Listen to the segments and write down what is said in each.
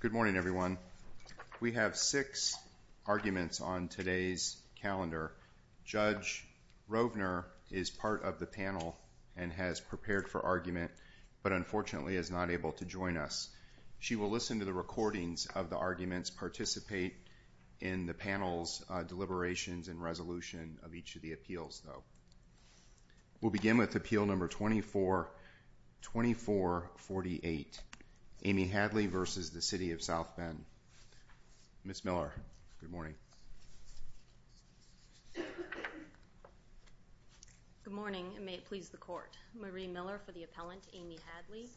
Good morning, everyone. We have six arguments on today's calendar. Judge Rovner is part of the panel and has prepared for argument, but unfortunately is not able to join us. She will listen to the recordings of the arguments, participate in the panel's deliberations and resolution of each of the appeals, though. We'll begin with Appeal No. 2448, Amy Hadley v. City of South Bend, Miss Miller. Good morning. Good morning, and may it please the Court. Marie Miller for the appellant, Amy Hadley.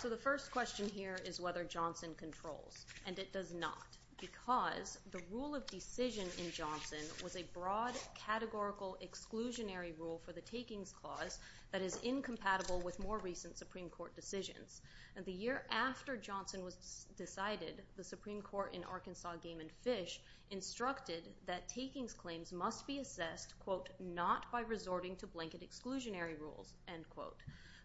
So the first question here is whether Johnson controls, and it does not, because the rule of decision in Johnson was a broad, categorical, exclusionary rule for the takings clause that is incompatible with more recent Supreme Court decisions. The year after Johnson was decided, the Supreme Court in Arkansas, Gammon Fish, instructed that takings claims must be assessed, quote, not by resorting to blanket exclusionary rules, end quote,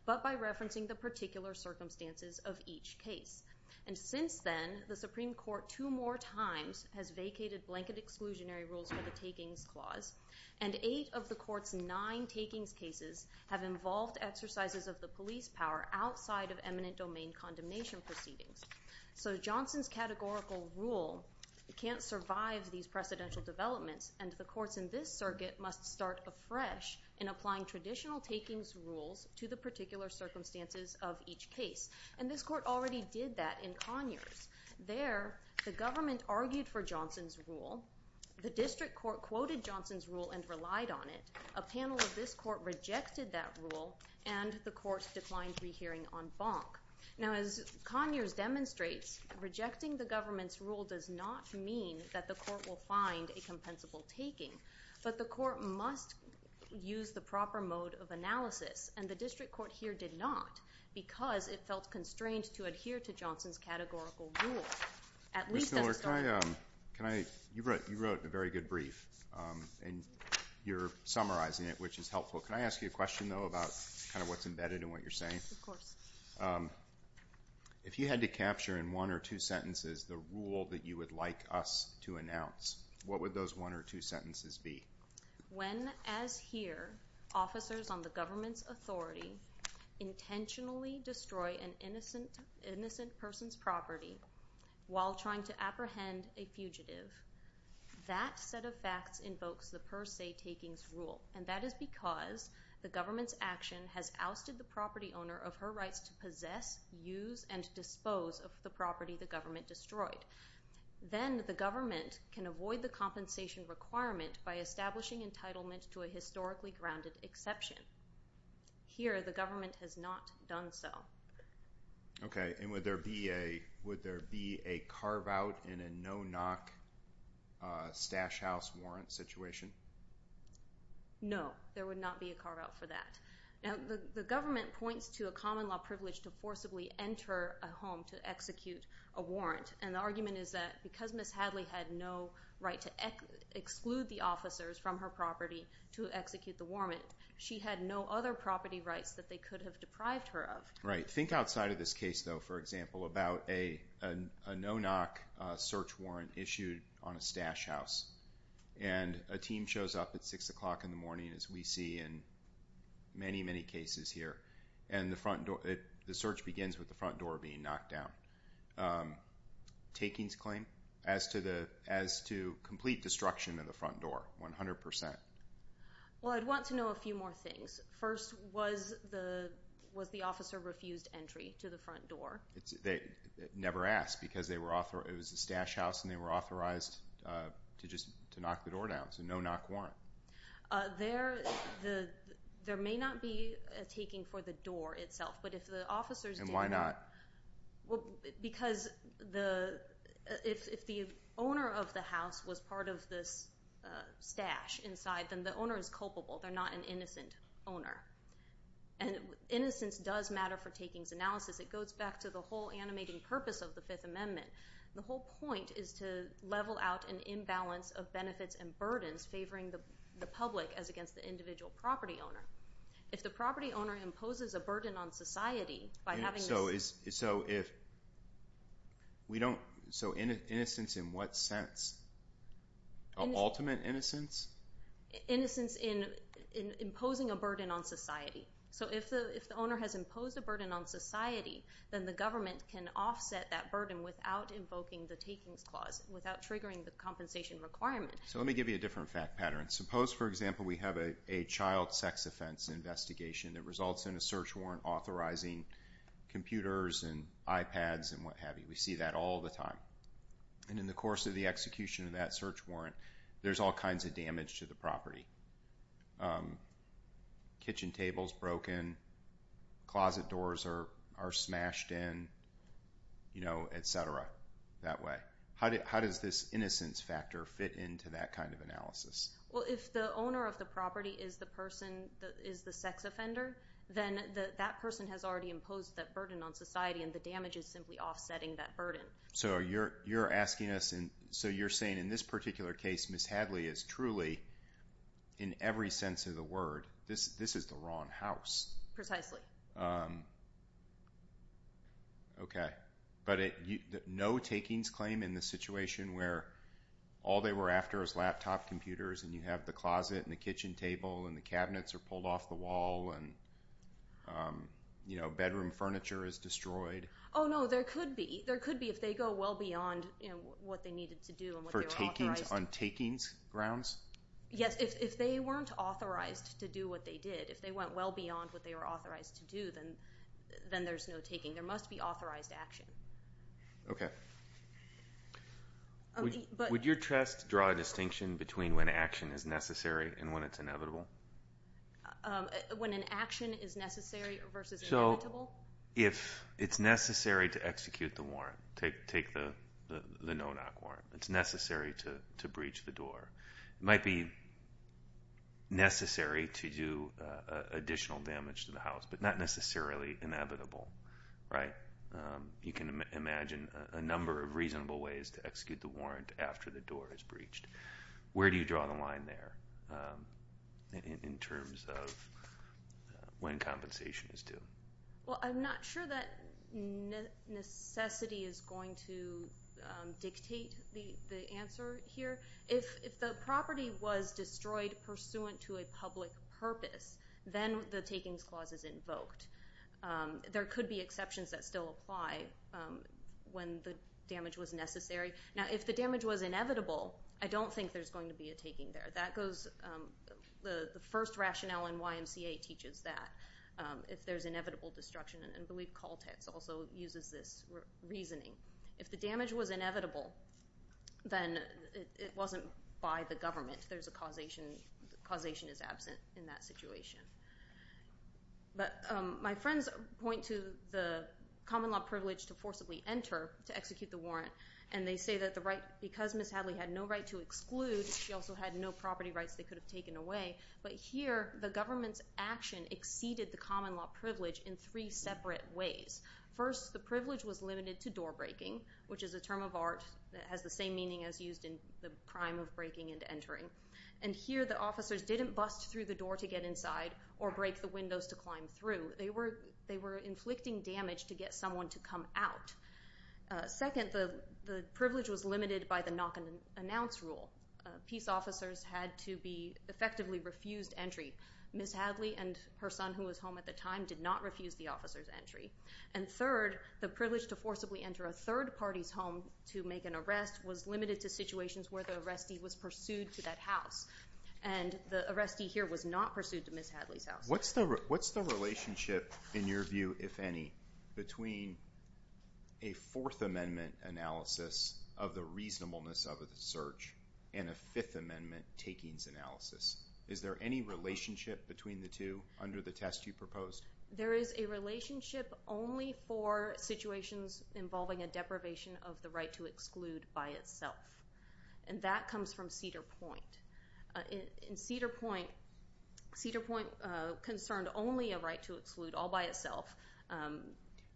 but by referencing the particular circumstances of each case. And since then, the Supreme Court two more times has vacated blanket exclusionary rules for the takings clause, and eight of the Court's nine takings cases have involved exercises of the police power outside of eminent domain condemnation proceedings. So Johnson's categorical rule can't survive these precedential developments, and the courts in this circuit must start afresh in applying traditional takings rules to the particular circumstances of each case. And this Court already did that in Conyers. There, the government argued for Johnson's rule, the district court quoted Johnson's rule and relied on it, a panel of this Court rejected that rule, and the Court declined rehearing en banc. Now, as Conyers demonstrates, rejecting the government's rule does not mean that the Court will find a compensable taking, but the Court must use the proper mode of analysis, and the district court here did not, because it felt constrained to adhere to Johnson's categorical rule. Ms. Miller, you wrote a very good brief, and you're summarizing it, which is helpful. Can I ask you a question, though, about kind of what's embedded in what you're saying? Of course. If you had to capture in one or two sentences the rule that you would like us to announce, what would those one or two sentences be? When, as here, officers on the government's authority intentionally destroy an innocent person's property while trying to apprehend a fugitive, that set of facts invokes the per se takings rule. And that is because the government's action has ousted the property owner of her rights to possess, use, and dispose of the property the government destroyed. Then the government can avoid the compensation requirement by establishing entitlement to a historically grounded exception. Here, the government has not done so. Okay, and would there be a carve-out in a no-knock stash house warrant situation? No, there would not be a carve-out for that. Now, the government points to a common law privilege to forcibly enter a home to execute a warrant. And the argument is that because Ms. Hadley had no right to exclude the officers from her property to execute the warrant, she had no other property rights that they could have deprived her of. Right, think outside of this case, though, for example, about a no-knock search warrant issued on a stash house. And a team shows up at 6 o'clock in the morning, as we see in many, many cases here. And the search begins with the front door being knocked down. Takings claim as to complete destruction of the front door, 100%. Well, I'd want to know a few more things. First, was the officer refused entry to the front door? Never asked, because it was a stash house, and they were authorized to just knock the door down. It's a no-knock warrant. There may not be a taking for the door itself. And why not? Because if the owner of the house was part of this stash inside, then the owner is culpable. They're not an innocent owner. And innocence does matter for takings analysis. It goes back to the whole animating purpose of the Fifth Amendment. The whole point is to level out an imbalance of benefits and burdens favoring the public as against the individual property owner. If the property owner imposes a burden on society by having this— So if we don't—so innocence in what sense? Ultimate innocence? Innocence in imposing a burden on society. So if the owner has imposed a burden on society, then the government can offset that burden without invoking the takings clause, without triggering the compensation requirement. So let me give you a different fact pattern. Suppose, for example, we have a child sex offense investigation that results in a search warrant authorizing computers and iPads and what have you. We see that all the time. And in the course of the execution of that search warrant, there's all kinds of damage to the property. Kitchen table's broken. Closet doors are smashed in, you know, et cetera, that way. How does this innocence factor fit into that kind of analysis? Well, if the owner of the property is the sex offender, then that person has already imposed that burden on society, and the damage is simply offsetting that burden. So you're asking us—so you're saying in this particular case, Ms. Hadley is truly, in every sense of the word, this is the wrong house. Precisely. Okay. But no takings claim in the situation where all they were after was laptop computers, and you have the closet and the kitchen table, and the cabinets are pulled off the wall, and, you know, bedroom furniture is destroyed? Oh, no, there could be. There could be if they go well beyond what they needed to do and what they were authorized to do. For takings on takings grounds? Yes, if they weren't authorized to do what they did. If they went well beyond what they were authorized to do, then there's no taking. There must be authorized action. Okay. Would your test draw a distinction between when action is necessary and when it's inevitable? When an action is necessary versus inevitable? If it's necessary to execute the warrant. Take the no-knock warrant. It's necessary to breach the door. It might be necessary to do additional damage to the house, but not necessarily inevitable, right? You can imagine a number of reasonable ways to execute the warrant after the door is breached. Where do you draw the line there in terms of when compensation is due? Well, I'm not sure that necessity is going to dictate the answer here. If the property was destroyed pursuant to a public purpose, then the takings clause is invoked. There could be exceptions that still apply when the damage was necessary. Now, if the damage was inevitable, I don't think there's going to be a taking there. The first rationale in YMCA teaches that, if there's inevitable destruction, and I believe Caltex also uses this reasoning. If the damage was inevitable, then it wasn't by the government. There's a causation. The causation is absent in that situation. But my friends point to the common law privilege to forcibly enter to execute the warrant, and they say that because Ms. Hadley had no right to exclude, she also had no property rights they could have taken away. But here, the government's action exceeded the common law privilege in three separate ways. First, the privilege was limited to door breaking, which is a term of art that has the same meaning as used in the crime of breaking and entering. And here, the officers didn't bust through the door to get inside or break the windows to climb through. They were inflicting damage to get someone to come out. Second, the privilege was limited by the knock and announce rule. Peace officers had to be effectively refused entry. Ms. Hadley and her son, who was home at the time, did not refuse the officer's entry. And third, the privilege to forcibly enter a third party's home to make an arrest was limited to situations where the arrestee was pursued to that house. And the arrestee here was not pursued to Ms. Hadley's house. What's the relationship, in your view, if any, between a Fourth Amendment analysis of the reasonableness of a search and a Fifth Amendment takings analysis? Is there any relationship between the two under the test you proposed? There is a relationship only for situations involving a deprivation of the right to exclude by itself. And that comes from Cedar Point. In Cedar Point, Cedar Point concerned only a right to exclude all by itself.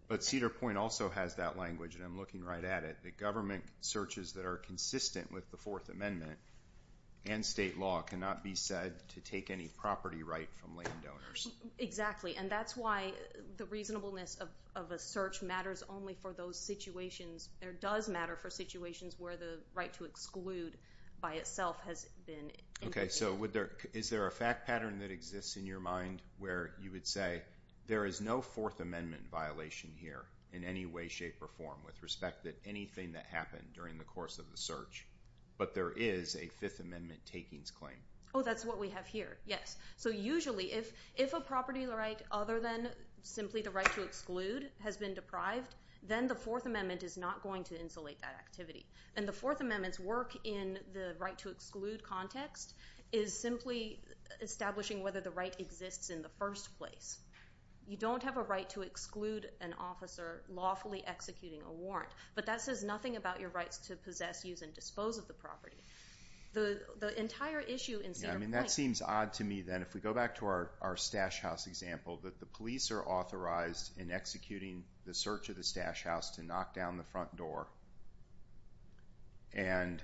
But Cedar Point also has that language, and I'm looking right at it. The government searches that are consistent with the Fourth Amendment and state law cannot be said to take any property right from landowners. Exactly, and that's why the reasonableness of a search matters only for those situations. There does matter for situations where the right to exclude by itself has been included. Okay, so is there a fact pattern that exists in your mind where you would say, there is no Fourth Amendment violation here in any way, shape, or form with respect to anything that happened during the course of the search, but there is a Fifth Amendment takings claim? Oh, that's what we have here, yes. So usually if a property right other than simply the right to exclude has been deprived, then the Fourth Amendment is not going to insulate that activity. And the Fourth Amendment's work in the right to exclude context is simply establishing whether the right exists in the first place. You don't have a right to exclude an officer lawfully executing a warrant, but that says nothing about your rights to possess, use, and dispose of the property. The entire issue in Cedar Point. That seems odd to me, then. If we go back to our stash house example, that the police are authorized in executing the search of the stash house to knock down the front door, and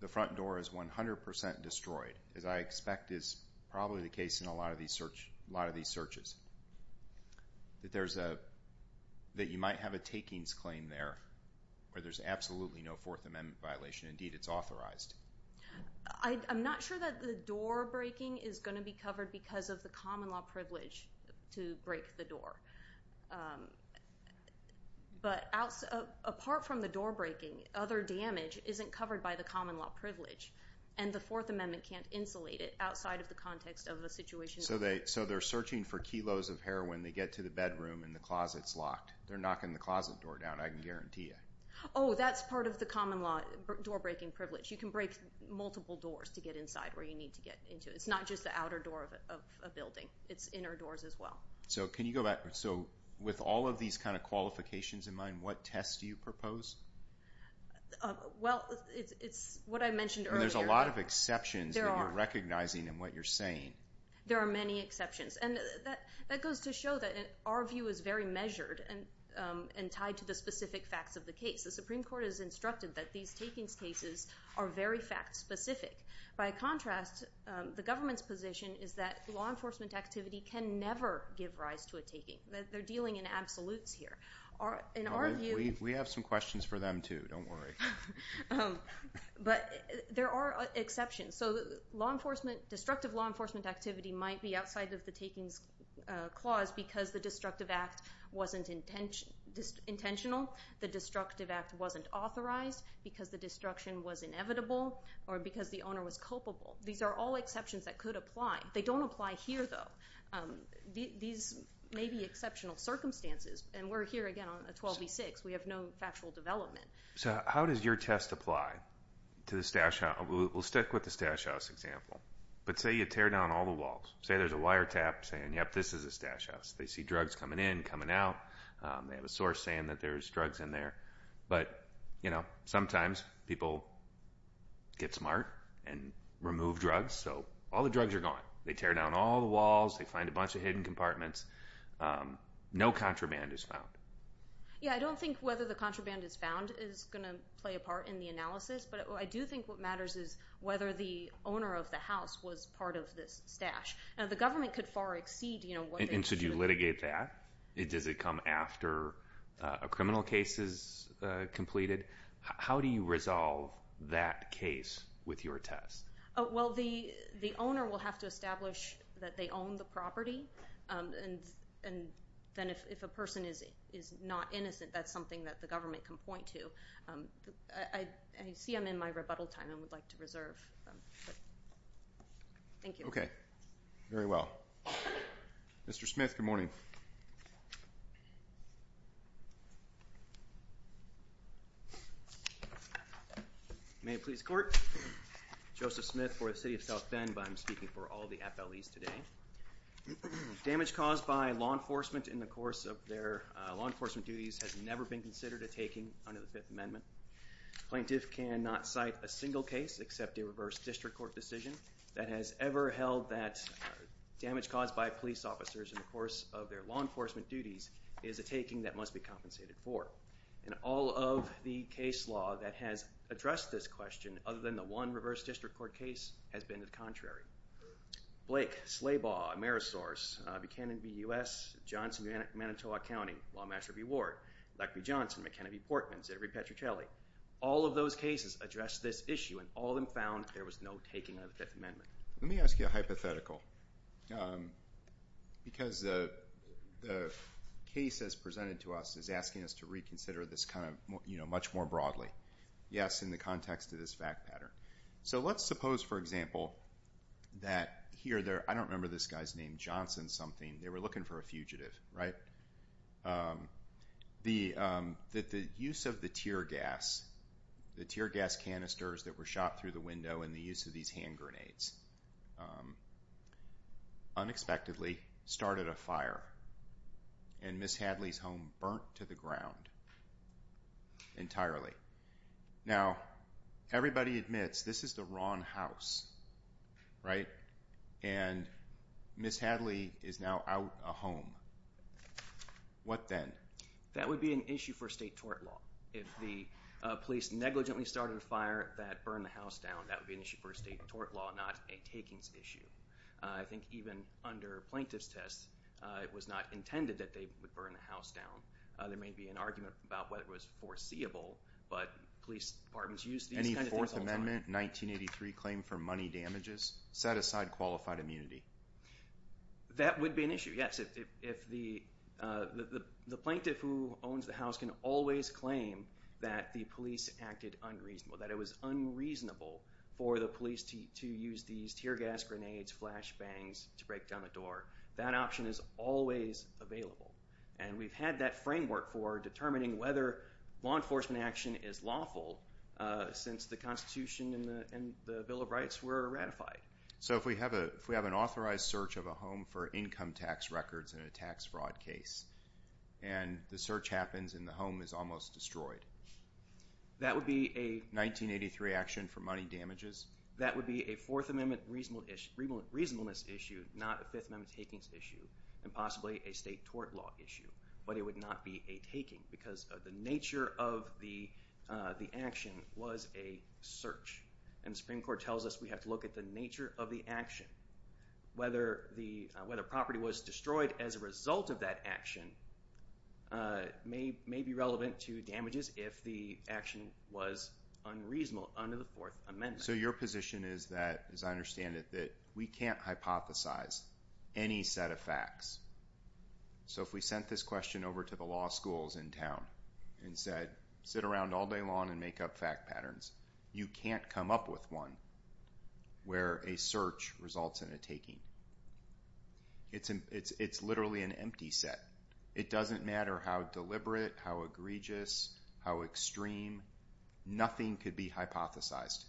the front door is 100% destroyed, as I expect is probably the case in a lot of these searches, that you might have a takings claim there where there's absolutely no Fourth Amendment violation. Indeed, it's authorized. I'm not sure that the door breaking is going to be covered because of the common law privilege to break the door. But apart from the door breaking, other damage isn't covered by the common law privilege, and the Fourth Amendment can't insulate it outside of the context of a situation. So they're searching for kilos of heroin. They get to the bedroom, and the closet's locked. They're knocking the closet door down. I can guarantee you. Oh, that's part of the common law door breaking privilege. You can break multiple doors to get inside where you need to get into. It's not just the outer door of a building. It's inner doors as well. So can you go back? So with all of these kind of qualifications in mind, what tests do you propose? Well, it's what I mentioned earlier. There's a lot of exceptions that you're recognizing in what you're saying. There are many exceptions. And that goes to show that our view is very measured and tied to the specific facts of the case. The Supreme Court has instructed that these takings cases are very fact-specific. By contrast, the government's position is that law enforcement activity can never give rise to a taking. They're dealing in absolutes here. We have some questions for them too. Don't worry. But there are exceptions. So law enforcement, destructive law enforcement activity might be outside of the takings clause because the destructive act wasn't intentional, the destructive act wasn't authorized, because the destruction was inevitable, or because the owner was culpable. These are all exceptions that could apply. They don't apply here, though. These may be exceptional circumstances. And we're here, again, on a 12b-6. We have no factual development. So how does your test apply to the statute? We'll stick with the stash house example. But say you tear down all the walls. Say there's a wiretap saying, yep, this is a stash house. They see drugs coming in, coming out. They have a source saying that there's drugs in there. But, you know, sometimes people get smart and remove drugs. So all the drugs are gone. They tear down all the walls. They find a bunch of hidden compartments. No contraband is found. Yeah, I don't think whether the contraband is found is going to play a part in the analysis. But I do think what matters is whether the owner of the house was part of this stash. Now, the government could far exceed, you know, what they should. And should you litigate that? Does it come after a criminal case is completed? How do you resolve that case with your test? Well, the owner will have to establish that they own the property. And then if a person is not innocent, that's something that the government can point to. I see I'm in my rebuttal time. I would like to reserve. Thank you. Okay, very well. Mr. Smith, good morning. May it please the Court. Joseph Smith for the City of South Bend, but I'm speaking for all the FLEs today. Damage caused by law enforcement in the course of their law enforcement duties has never been considered a taking under the Fifth Amendment. Plaintiff cannot cite a single case except a reverse district court decision that has ever held that damage caused by police officers in the course of their law enforcement duties is a taking that must be compensated for. And all of the case law that has addressed this question, other than the one reverse district court case, has been the contrary. Blake, Slabaw, Amerisource, Buchanan v. U.S., Johnson v. Manitowoc County, Lawmaster v. Ward, Leck v. Johnson, McKenna v. Portman, Zedrick v. Petrucelli, all of those cases address this issue, and all of them found there was no taking under the Fifth Amendment. Let me ask you a hypothetical, because the case that's presented to us is asking us to reconsider this much more broadly. Yes, in the context of this fact pattern. So let's suppose, for example, that here, I don't remember this guy's name, Johnson something, they were looking for a fugitive, right? That the use of the tear gas, the tear gas canisters that were shot through the window and the use of these hand grenades, unexpectedly started a fire, and Ms. Hadley's home burnt to the ground entirely. Now, everybody admits this is the wrong house, right? And Ms. Hadley is now out of a home. What then? That would be an issue for state tort law. If the police negligently started a fire that burned the house down, that would be an issue for state tort law, not a takings issue. I think even under plaintiff's tests, it was not intended that they would burn the house down. There may be an argument about whether it was foreseeable, but police departments use these kinds of things all the time. Any Fourth Amendment 1983 claim for money damages set aside qualified immunity? That would be an issue, yes. If the plaintiff who owns the house can always claim that the police acted unreasonably, that it was unreasonable for the police to use these tear gas grenades, flash bangs to break down a door, that option is always available. And we've had that framework for determining whether law enforcement action is lawful since the Constitution and the Bill of Rights were ratified. So if we have an authorized search of a home for income tax records in a tax fraud case and the search happens and the home is almost destroyed, that would be a 1983 action for money damages? That would be a Fourth Amendment reasonableness issue, not a Fifth Amendment takings issue, and possibly a state tort law issue. But it would not be a taking because the nature of the action was a search. And the Supreme Court tells us we have to look at the nature of the action. Whether property was destroyed as a result of that action may be relevant to damages if the action was unreasonable under the Fourth Amendment. And so your position is that, as I understand it, that we can't hypothesize any set of facts. So if we sent this question over to the law schools in town and said, sit around all day long and make up fact patterns, you can't come up with one where a search results in a taking. It's literally an empty set. It doesn't matter how deliberate, how egregious, how extreme. Nothing could be hypothesized.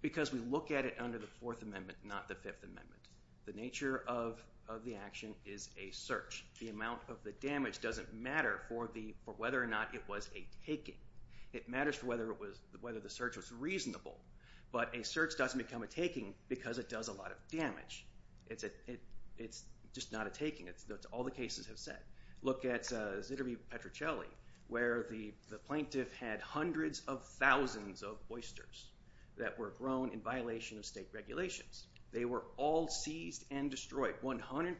Because we look at it under the Fourth Amendment, not the Fifth Amendment. The nature of the action is a search. The amount of the damage doesn't matter for whether or not it was a taking. It matters for whether the search was reasonable. But a search doesn't become a taking because it does a lot of damage. It's just not a taking. That's what all the cases have said. Look at Zitterbe Petrocelli where the plaintiff had hundreds of thousands of oysters that were grown in violation of state regulations. They were all seized and destroyed, 100%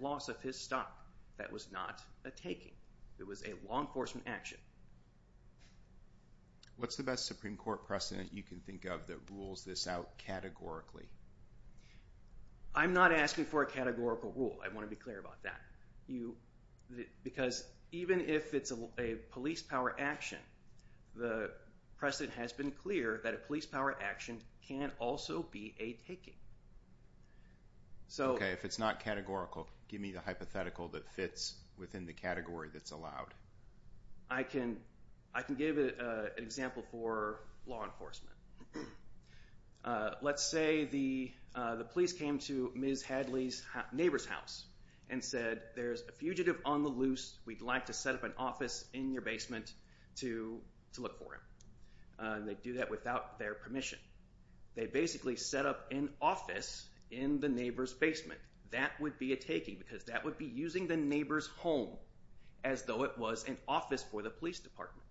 loss of his stock. That was not a taking. It was a law enforcement action. What's the best Supreme Court precedent you can think of that rules this out categorically? I'm not asking for a categorical rule. I want to be clear about that. Because even if it's a police power action, the precedent has been clear that a police power action can also be a taking. Okay, if it's not categorical, give me the hypothetical that fits within the category that's allowed. I can give an example for law enforcement. Let's say the police came to Ms. Hadley's neighbor's house and said, there's a fugitive on the loose. We'd like to set up an office in your basement to look for him. And they do that without their permission. They basically set up an office in the neighbor's basement. That would be a taking because that would be using the neighbor's home as though it was an office for the police department.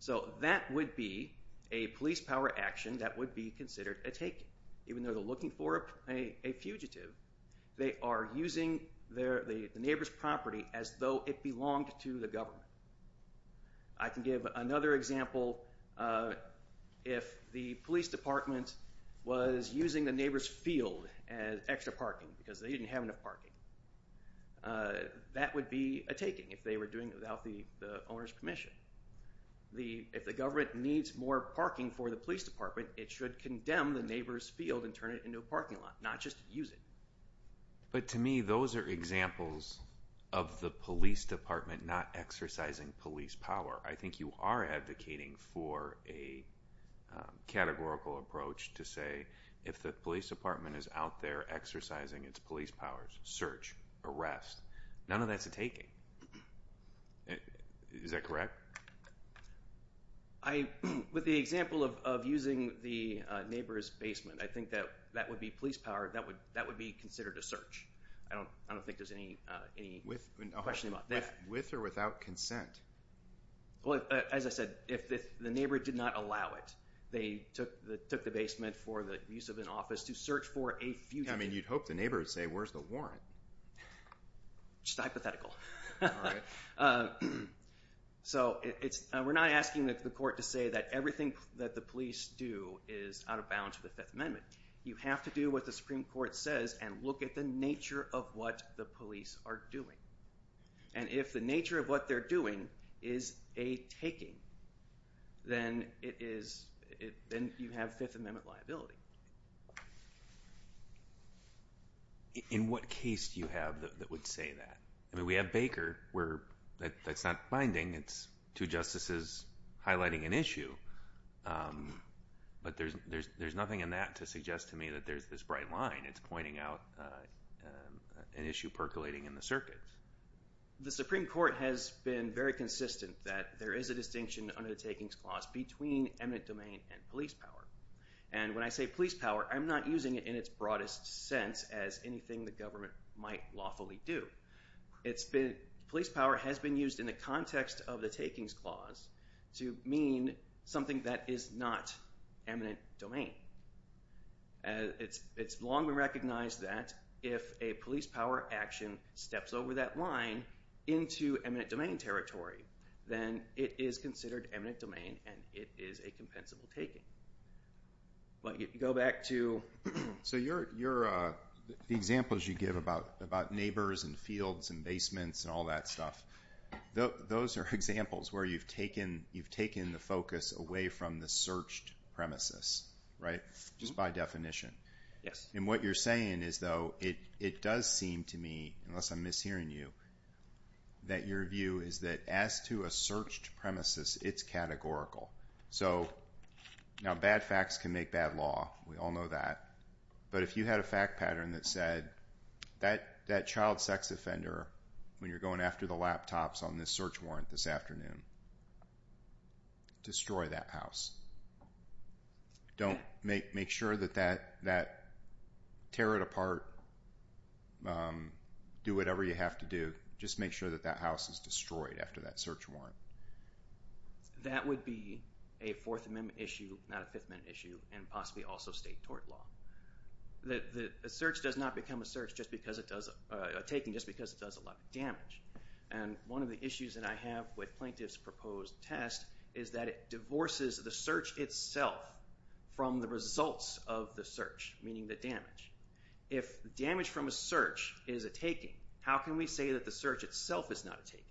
So that would be a police power action that would be considered a taking. Even though they're looking for a fugitive, they are using the neighbor's property as though it belonged to the government. I can give another example. If the police department was using the neighbor's field as extra parking because they didn't have enough parking, that would be a taking if they were doing it without the owner's permission. If the government needs more parking for the police department, it should condemn the neighbor's field and turn it into a parking lot, not just use it. But to me, those are examples of the police department not exercising police power. I think you are advocating for a categorical approach to say if the police department is out there exercising its police powers, search, arrest, none of that's a taking. Is that correct? With the example of using the neighbor's basement, I think that would be police power. That would be considered a search. I don't think there's any question about that. With or without consent? As I said, if the neighbor did not allow it, they took the basement for the use of an office to search for a fugitive. You'd hope the neighbor would say, where's the warrant? Just hypothetical. We're not asking the court to say that everything that the police do is out of bounds with the Fifth Amendment. You have to do what the Supreme Court says and look at the nature of what the police are doing. If the nature of what they're doing is a taking, then you have Fifth Amendment liability. In what case do you have that would say that? We have Baker. That's not binding. It's two justices highlighting an issue. But there's nothing in that to suggest to me that there's this bright line. It's pointing out an issue percolating in the circuit. The Supreme Court has been very consistent that there is a distinction under the Takings Clause between eminent domain and police power. When I say police power, I'm not using it in its broadest sense as anything the government might lawfully do. Police power has been used in the context of the Takings Clause to mean something that is not eminent domain. It's long been recognized that if a police power action steps over that line into eminent domain territory, then it is considered eminent domain and it is a compensable taking. The examples you give about neighbors and fields and basements and all that stuff, those are examples where you've taken the focus away from the searched premises, just by definition. And what you're saying is, though, it does seem to me, unless I'm mishearing you, that your view is that as to a searched premises, it's categorical. Now, bad facts can make bad law. We all know that. But if you had a fact pattern that said that child sex offender, when you're going after the laptops on this search warrant this afternoon, destroy that house. Don't make sure that that, tear it apart, do whatever you have to do. Just make sure that that house is destroyed after that search warrant. That would be a Fourth Amendment issue, not a Fifth Amendment issue, and possibly also state tort law. A search does not become a search just because it does, a taking just because it does a lot of damage. And one of the issues that I have with Plaintiff's proposed test is that it divorces the search itself from the results of the search, meaning the damage. If damage from a search is a taking, how can we say that the search itself is not a taking?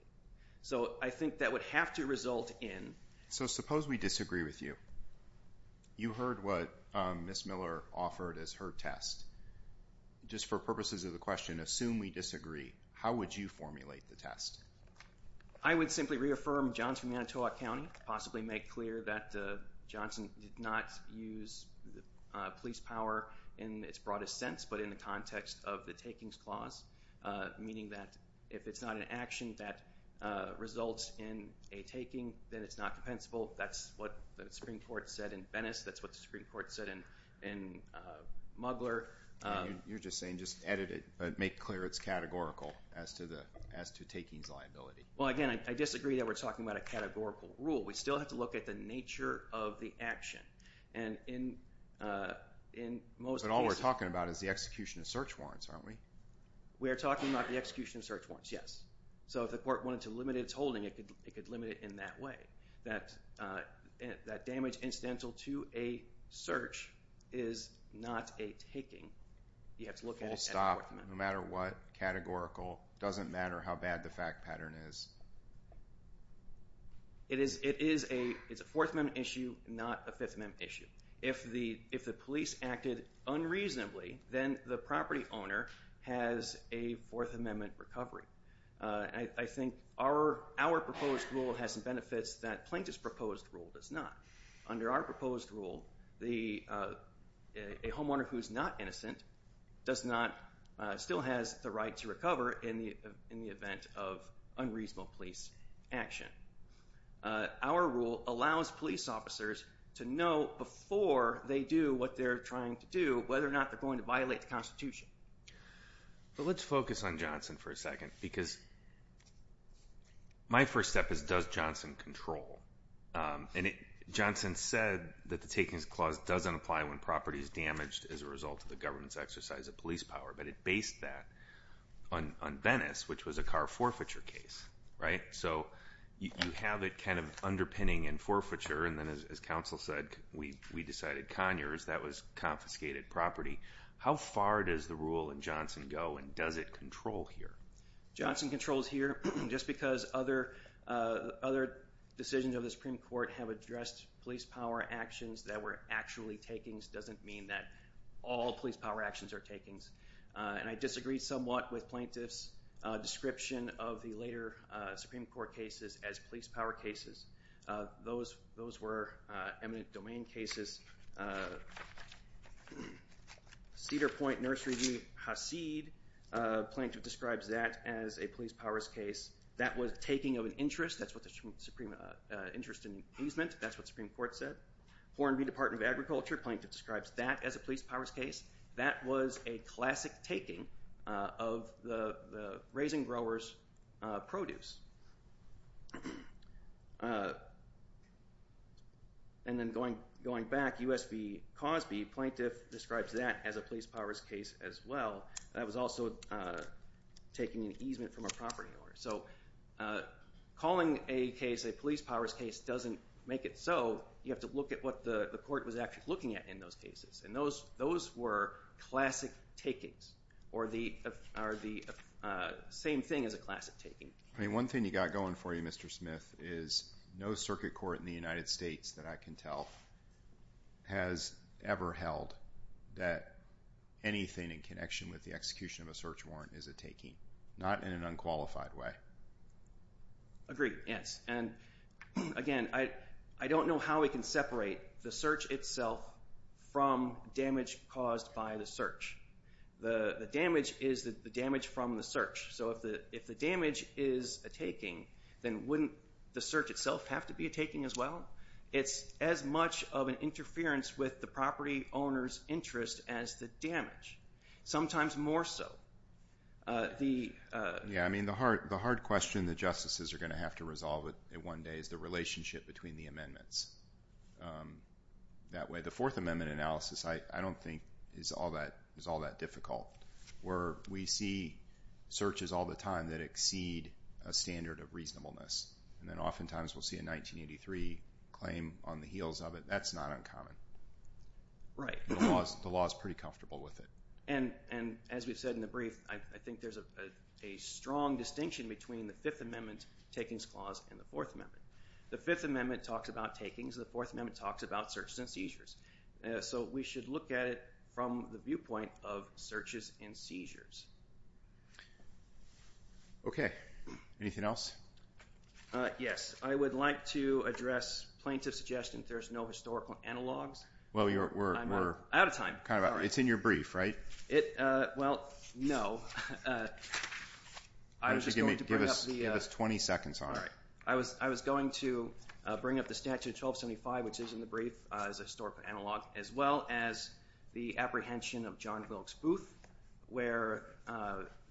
So I think that would have to result in... So suppose we disagree with you. You heard what Ms. Miller offered as her test. Just for purposes of the question, assume we disagree. How would you formulate the test? I would simply reaffirm Johnson, Manitowoc County, possibly make clear that Johnson did not use police power in its broadest sense, but in the context of the takings clause, meaning that if it's not an action that results in a taking, then it's not compensable. That's what the Supreme Court said in Venice. That's what the Supreme Court said in Mugler. You're just saying just edit it, make clear it's categorical as to takings liability. Well, again, I disagree that we're talking about a categorical rule. We still have to look at the nature of the action. But all we're talking about is the execution of search warrants, aren't we? We are talking about the execution of search warrants, yes. So if the court wanted to limit its holding, it could limit it in that way. That damage incidental to a search is not a taking. You have to look at it as a fourth amendment. Full stop, no matter what, categorical, doesn't matter how bad the fact pattern is. It is a Fourth Amendment issue, not a Fifth Amendment issue. If the police acted unreasonably, then the property owner has a Fourth Amendment recovery. I think our proposed rule has some benefits that Plaintiff's proposed rule does not. Under our proposed rule, a homeowner who is not innocent still has the right to recover in the event of unreasonable police action. Our rule allows police officers to know before they do what they're trying to do whether or not they're going to violate the Constitution. Let's focus on Johnson for a second. My first step is does Johnson control? Johnson said that the Takings Clause doesn't apply when property is damaged as a result of the government's exercise of police power, but it based that on Venice, which was a car forfeiture case. You have it underpinning in forfeiture, and then as counsel said, we decided Conyers, that was confiscated property. How far does the rule in Johnson go, and does it control here? Johnson controls here just because other decisions of the Supreme Court have addressed police power actions that were actually takings doesn't mean that all police power actions are takings. I disagree somewhat with Plaintiff's description of the later Supreme Court cases as police power cases. Those were eminent domain cases. Cedar Point Nursery v. Hasid, Plaintiff describes that as a police powers case. That was taking of an interest, that's what the Supreme Court said. Hornby Department of Agriculture, Plaintiff describes that as a police powers case. That was a classic taking of the raising growers' produce. And then going back, U.S. v. Cosby, Plaintiff describes that as a police powers case as well. That was also taking an easement from a property order. So calling a case a police powers case doesn't make it so. You have to look at what the court was actually looking at in those cases, and those were classic takings, or the same thing as a classic taking. One thing you got going for you, Mr. Smith, is no circuit court in the United States that I can tell has ever held that anything in connection with the execution of a search warrant is a taking. Not in an unqualified way. Agreed, yes. And again, I don't know how we can separate the search itself from damage caused by the search. The damage is the damage from the search. So if the damage is a taking, then wouldn't the search itself have to be a taking as well? It's as much of an interference with the property owner's interest as the damage. Sometimes more so. Yeah, I mean, the hard question the justices are going to have to resolve at one day is the relationship between the amendments. That way, the Fourth Amendment analysis I don't think is all that difficult. Where we see searches all the time that exceed a standard of reasonableness, and then oftentimes we'll see a 1983 claim on the heels of it. That's not uncommon. Right. The law is pretty comfortable with it. And as we've said in the brief, I think there's a strong distinction between the Fifth Amendment takings clause and the Fourth Amendment. The Fifth Amendment talks about takings. The Fourth Amendment talks about search and seizures. So we should look at it from the viewpoint of searches and seizures. Okay. Anything else? Yes. I would like to address plaintiff's suggestion that there's no historical analogs. Well, we're kind of out of time. It's in your brief, right? Well, no. Why don't you give us 20 seconds on it? All right. I was going to bring up the Statute of 1275, which is in the brief, as a historical analog, as well as the apprehension of John Wilkes Booth, where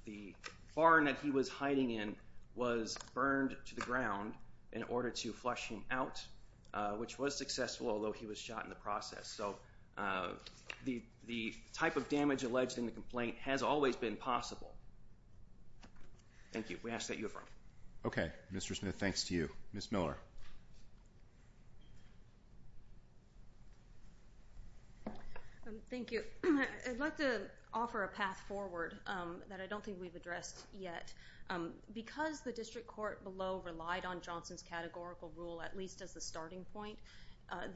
the barn that he was hiding in was burned to the ground in order to flush him out, which was successful, although he was shot in the process. So the type of damage alleged in the complaint has always been possible. Thank you. We ask that you affirm. Okay. Mr. Smith, thanks to you. Ms. Miller. Thank you. I'd like to offer a path forward that I don't think we've addressed yet. Because the district court below relied on Johnson's categorical rule, at least as the starting point,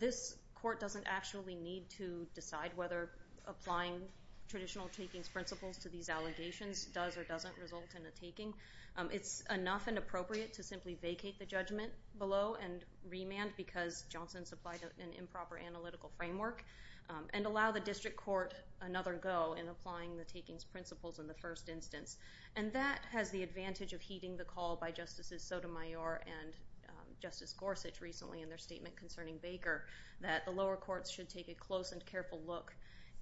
this court doesn't actually need to decide whether applying traditional takings principles to these allegations does or doesn't result in a taking. It's enough and appropriate to simply vacate the judgment below and remand, because Johnson supplied an improper analytical framework, and allow the district court another go in applying the takings principles in the first instance. And that has the advantage of heeding the call by Justices Sotomayor and Justice Gorsuch recently in their statement concerning Baker, that the lower courts should take a close and careful look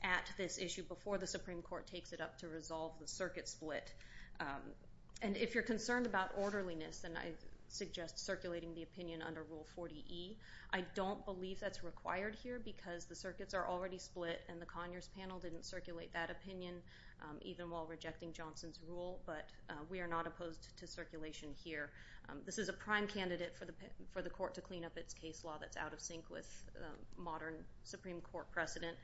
at this issue before the Supreme Court takes it up to resolve the circuit split. And if you're concerned about orderliness, and I suggest circulating the opinion under Rule 40E, I don't believe that's required here because the circuits are already split and the Conyers panel didn't circulate that opinion, even while rejecting Johnson's rule. But we are not opposed to circulation here. This is a prime candidate for the court to clean up its case law that's out of sync with modern Supreme Court precedent.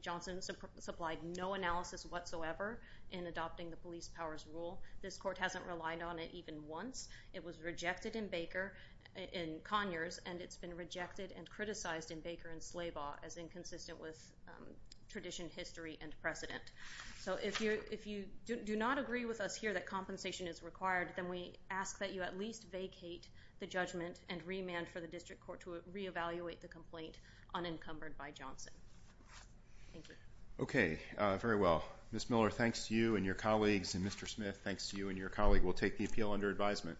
Johnson supplied no analysis whatsoever in adopting the police powers rule. This court hasn't relied on it even once. It was rejected in Conyers, and it's been rejected and criticized in Baker and Slabaugh as inconsistent with tradition, history, and precedent. So if you do not agree with us here that compensation is required, then we ask that you at least vacate the judgment and remand for the district court to reevaluate the complaint unencumbered by Johnson. Thank you. Okay, very well. Ms. Miller, thanks to you and your colleagues, and Mr. Smith, thanks to you and your colleague. We'll take the appeal under advisement.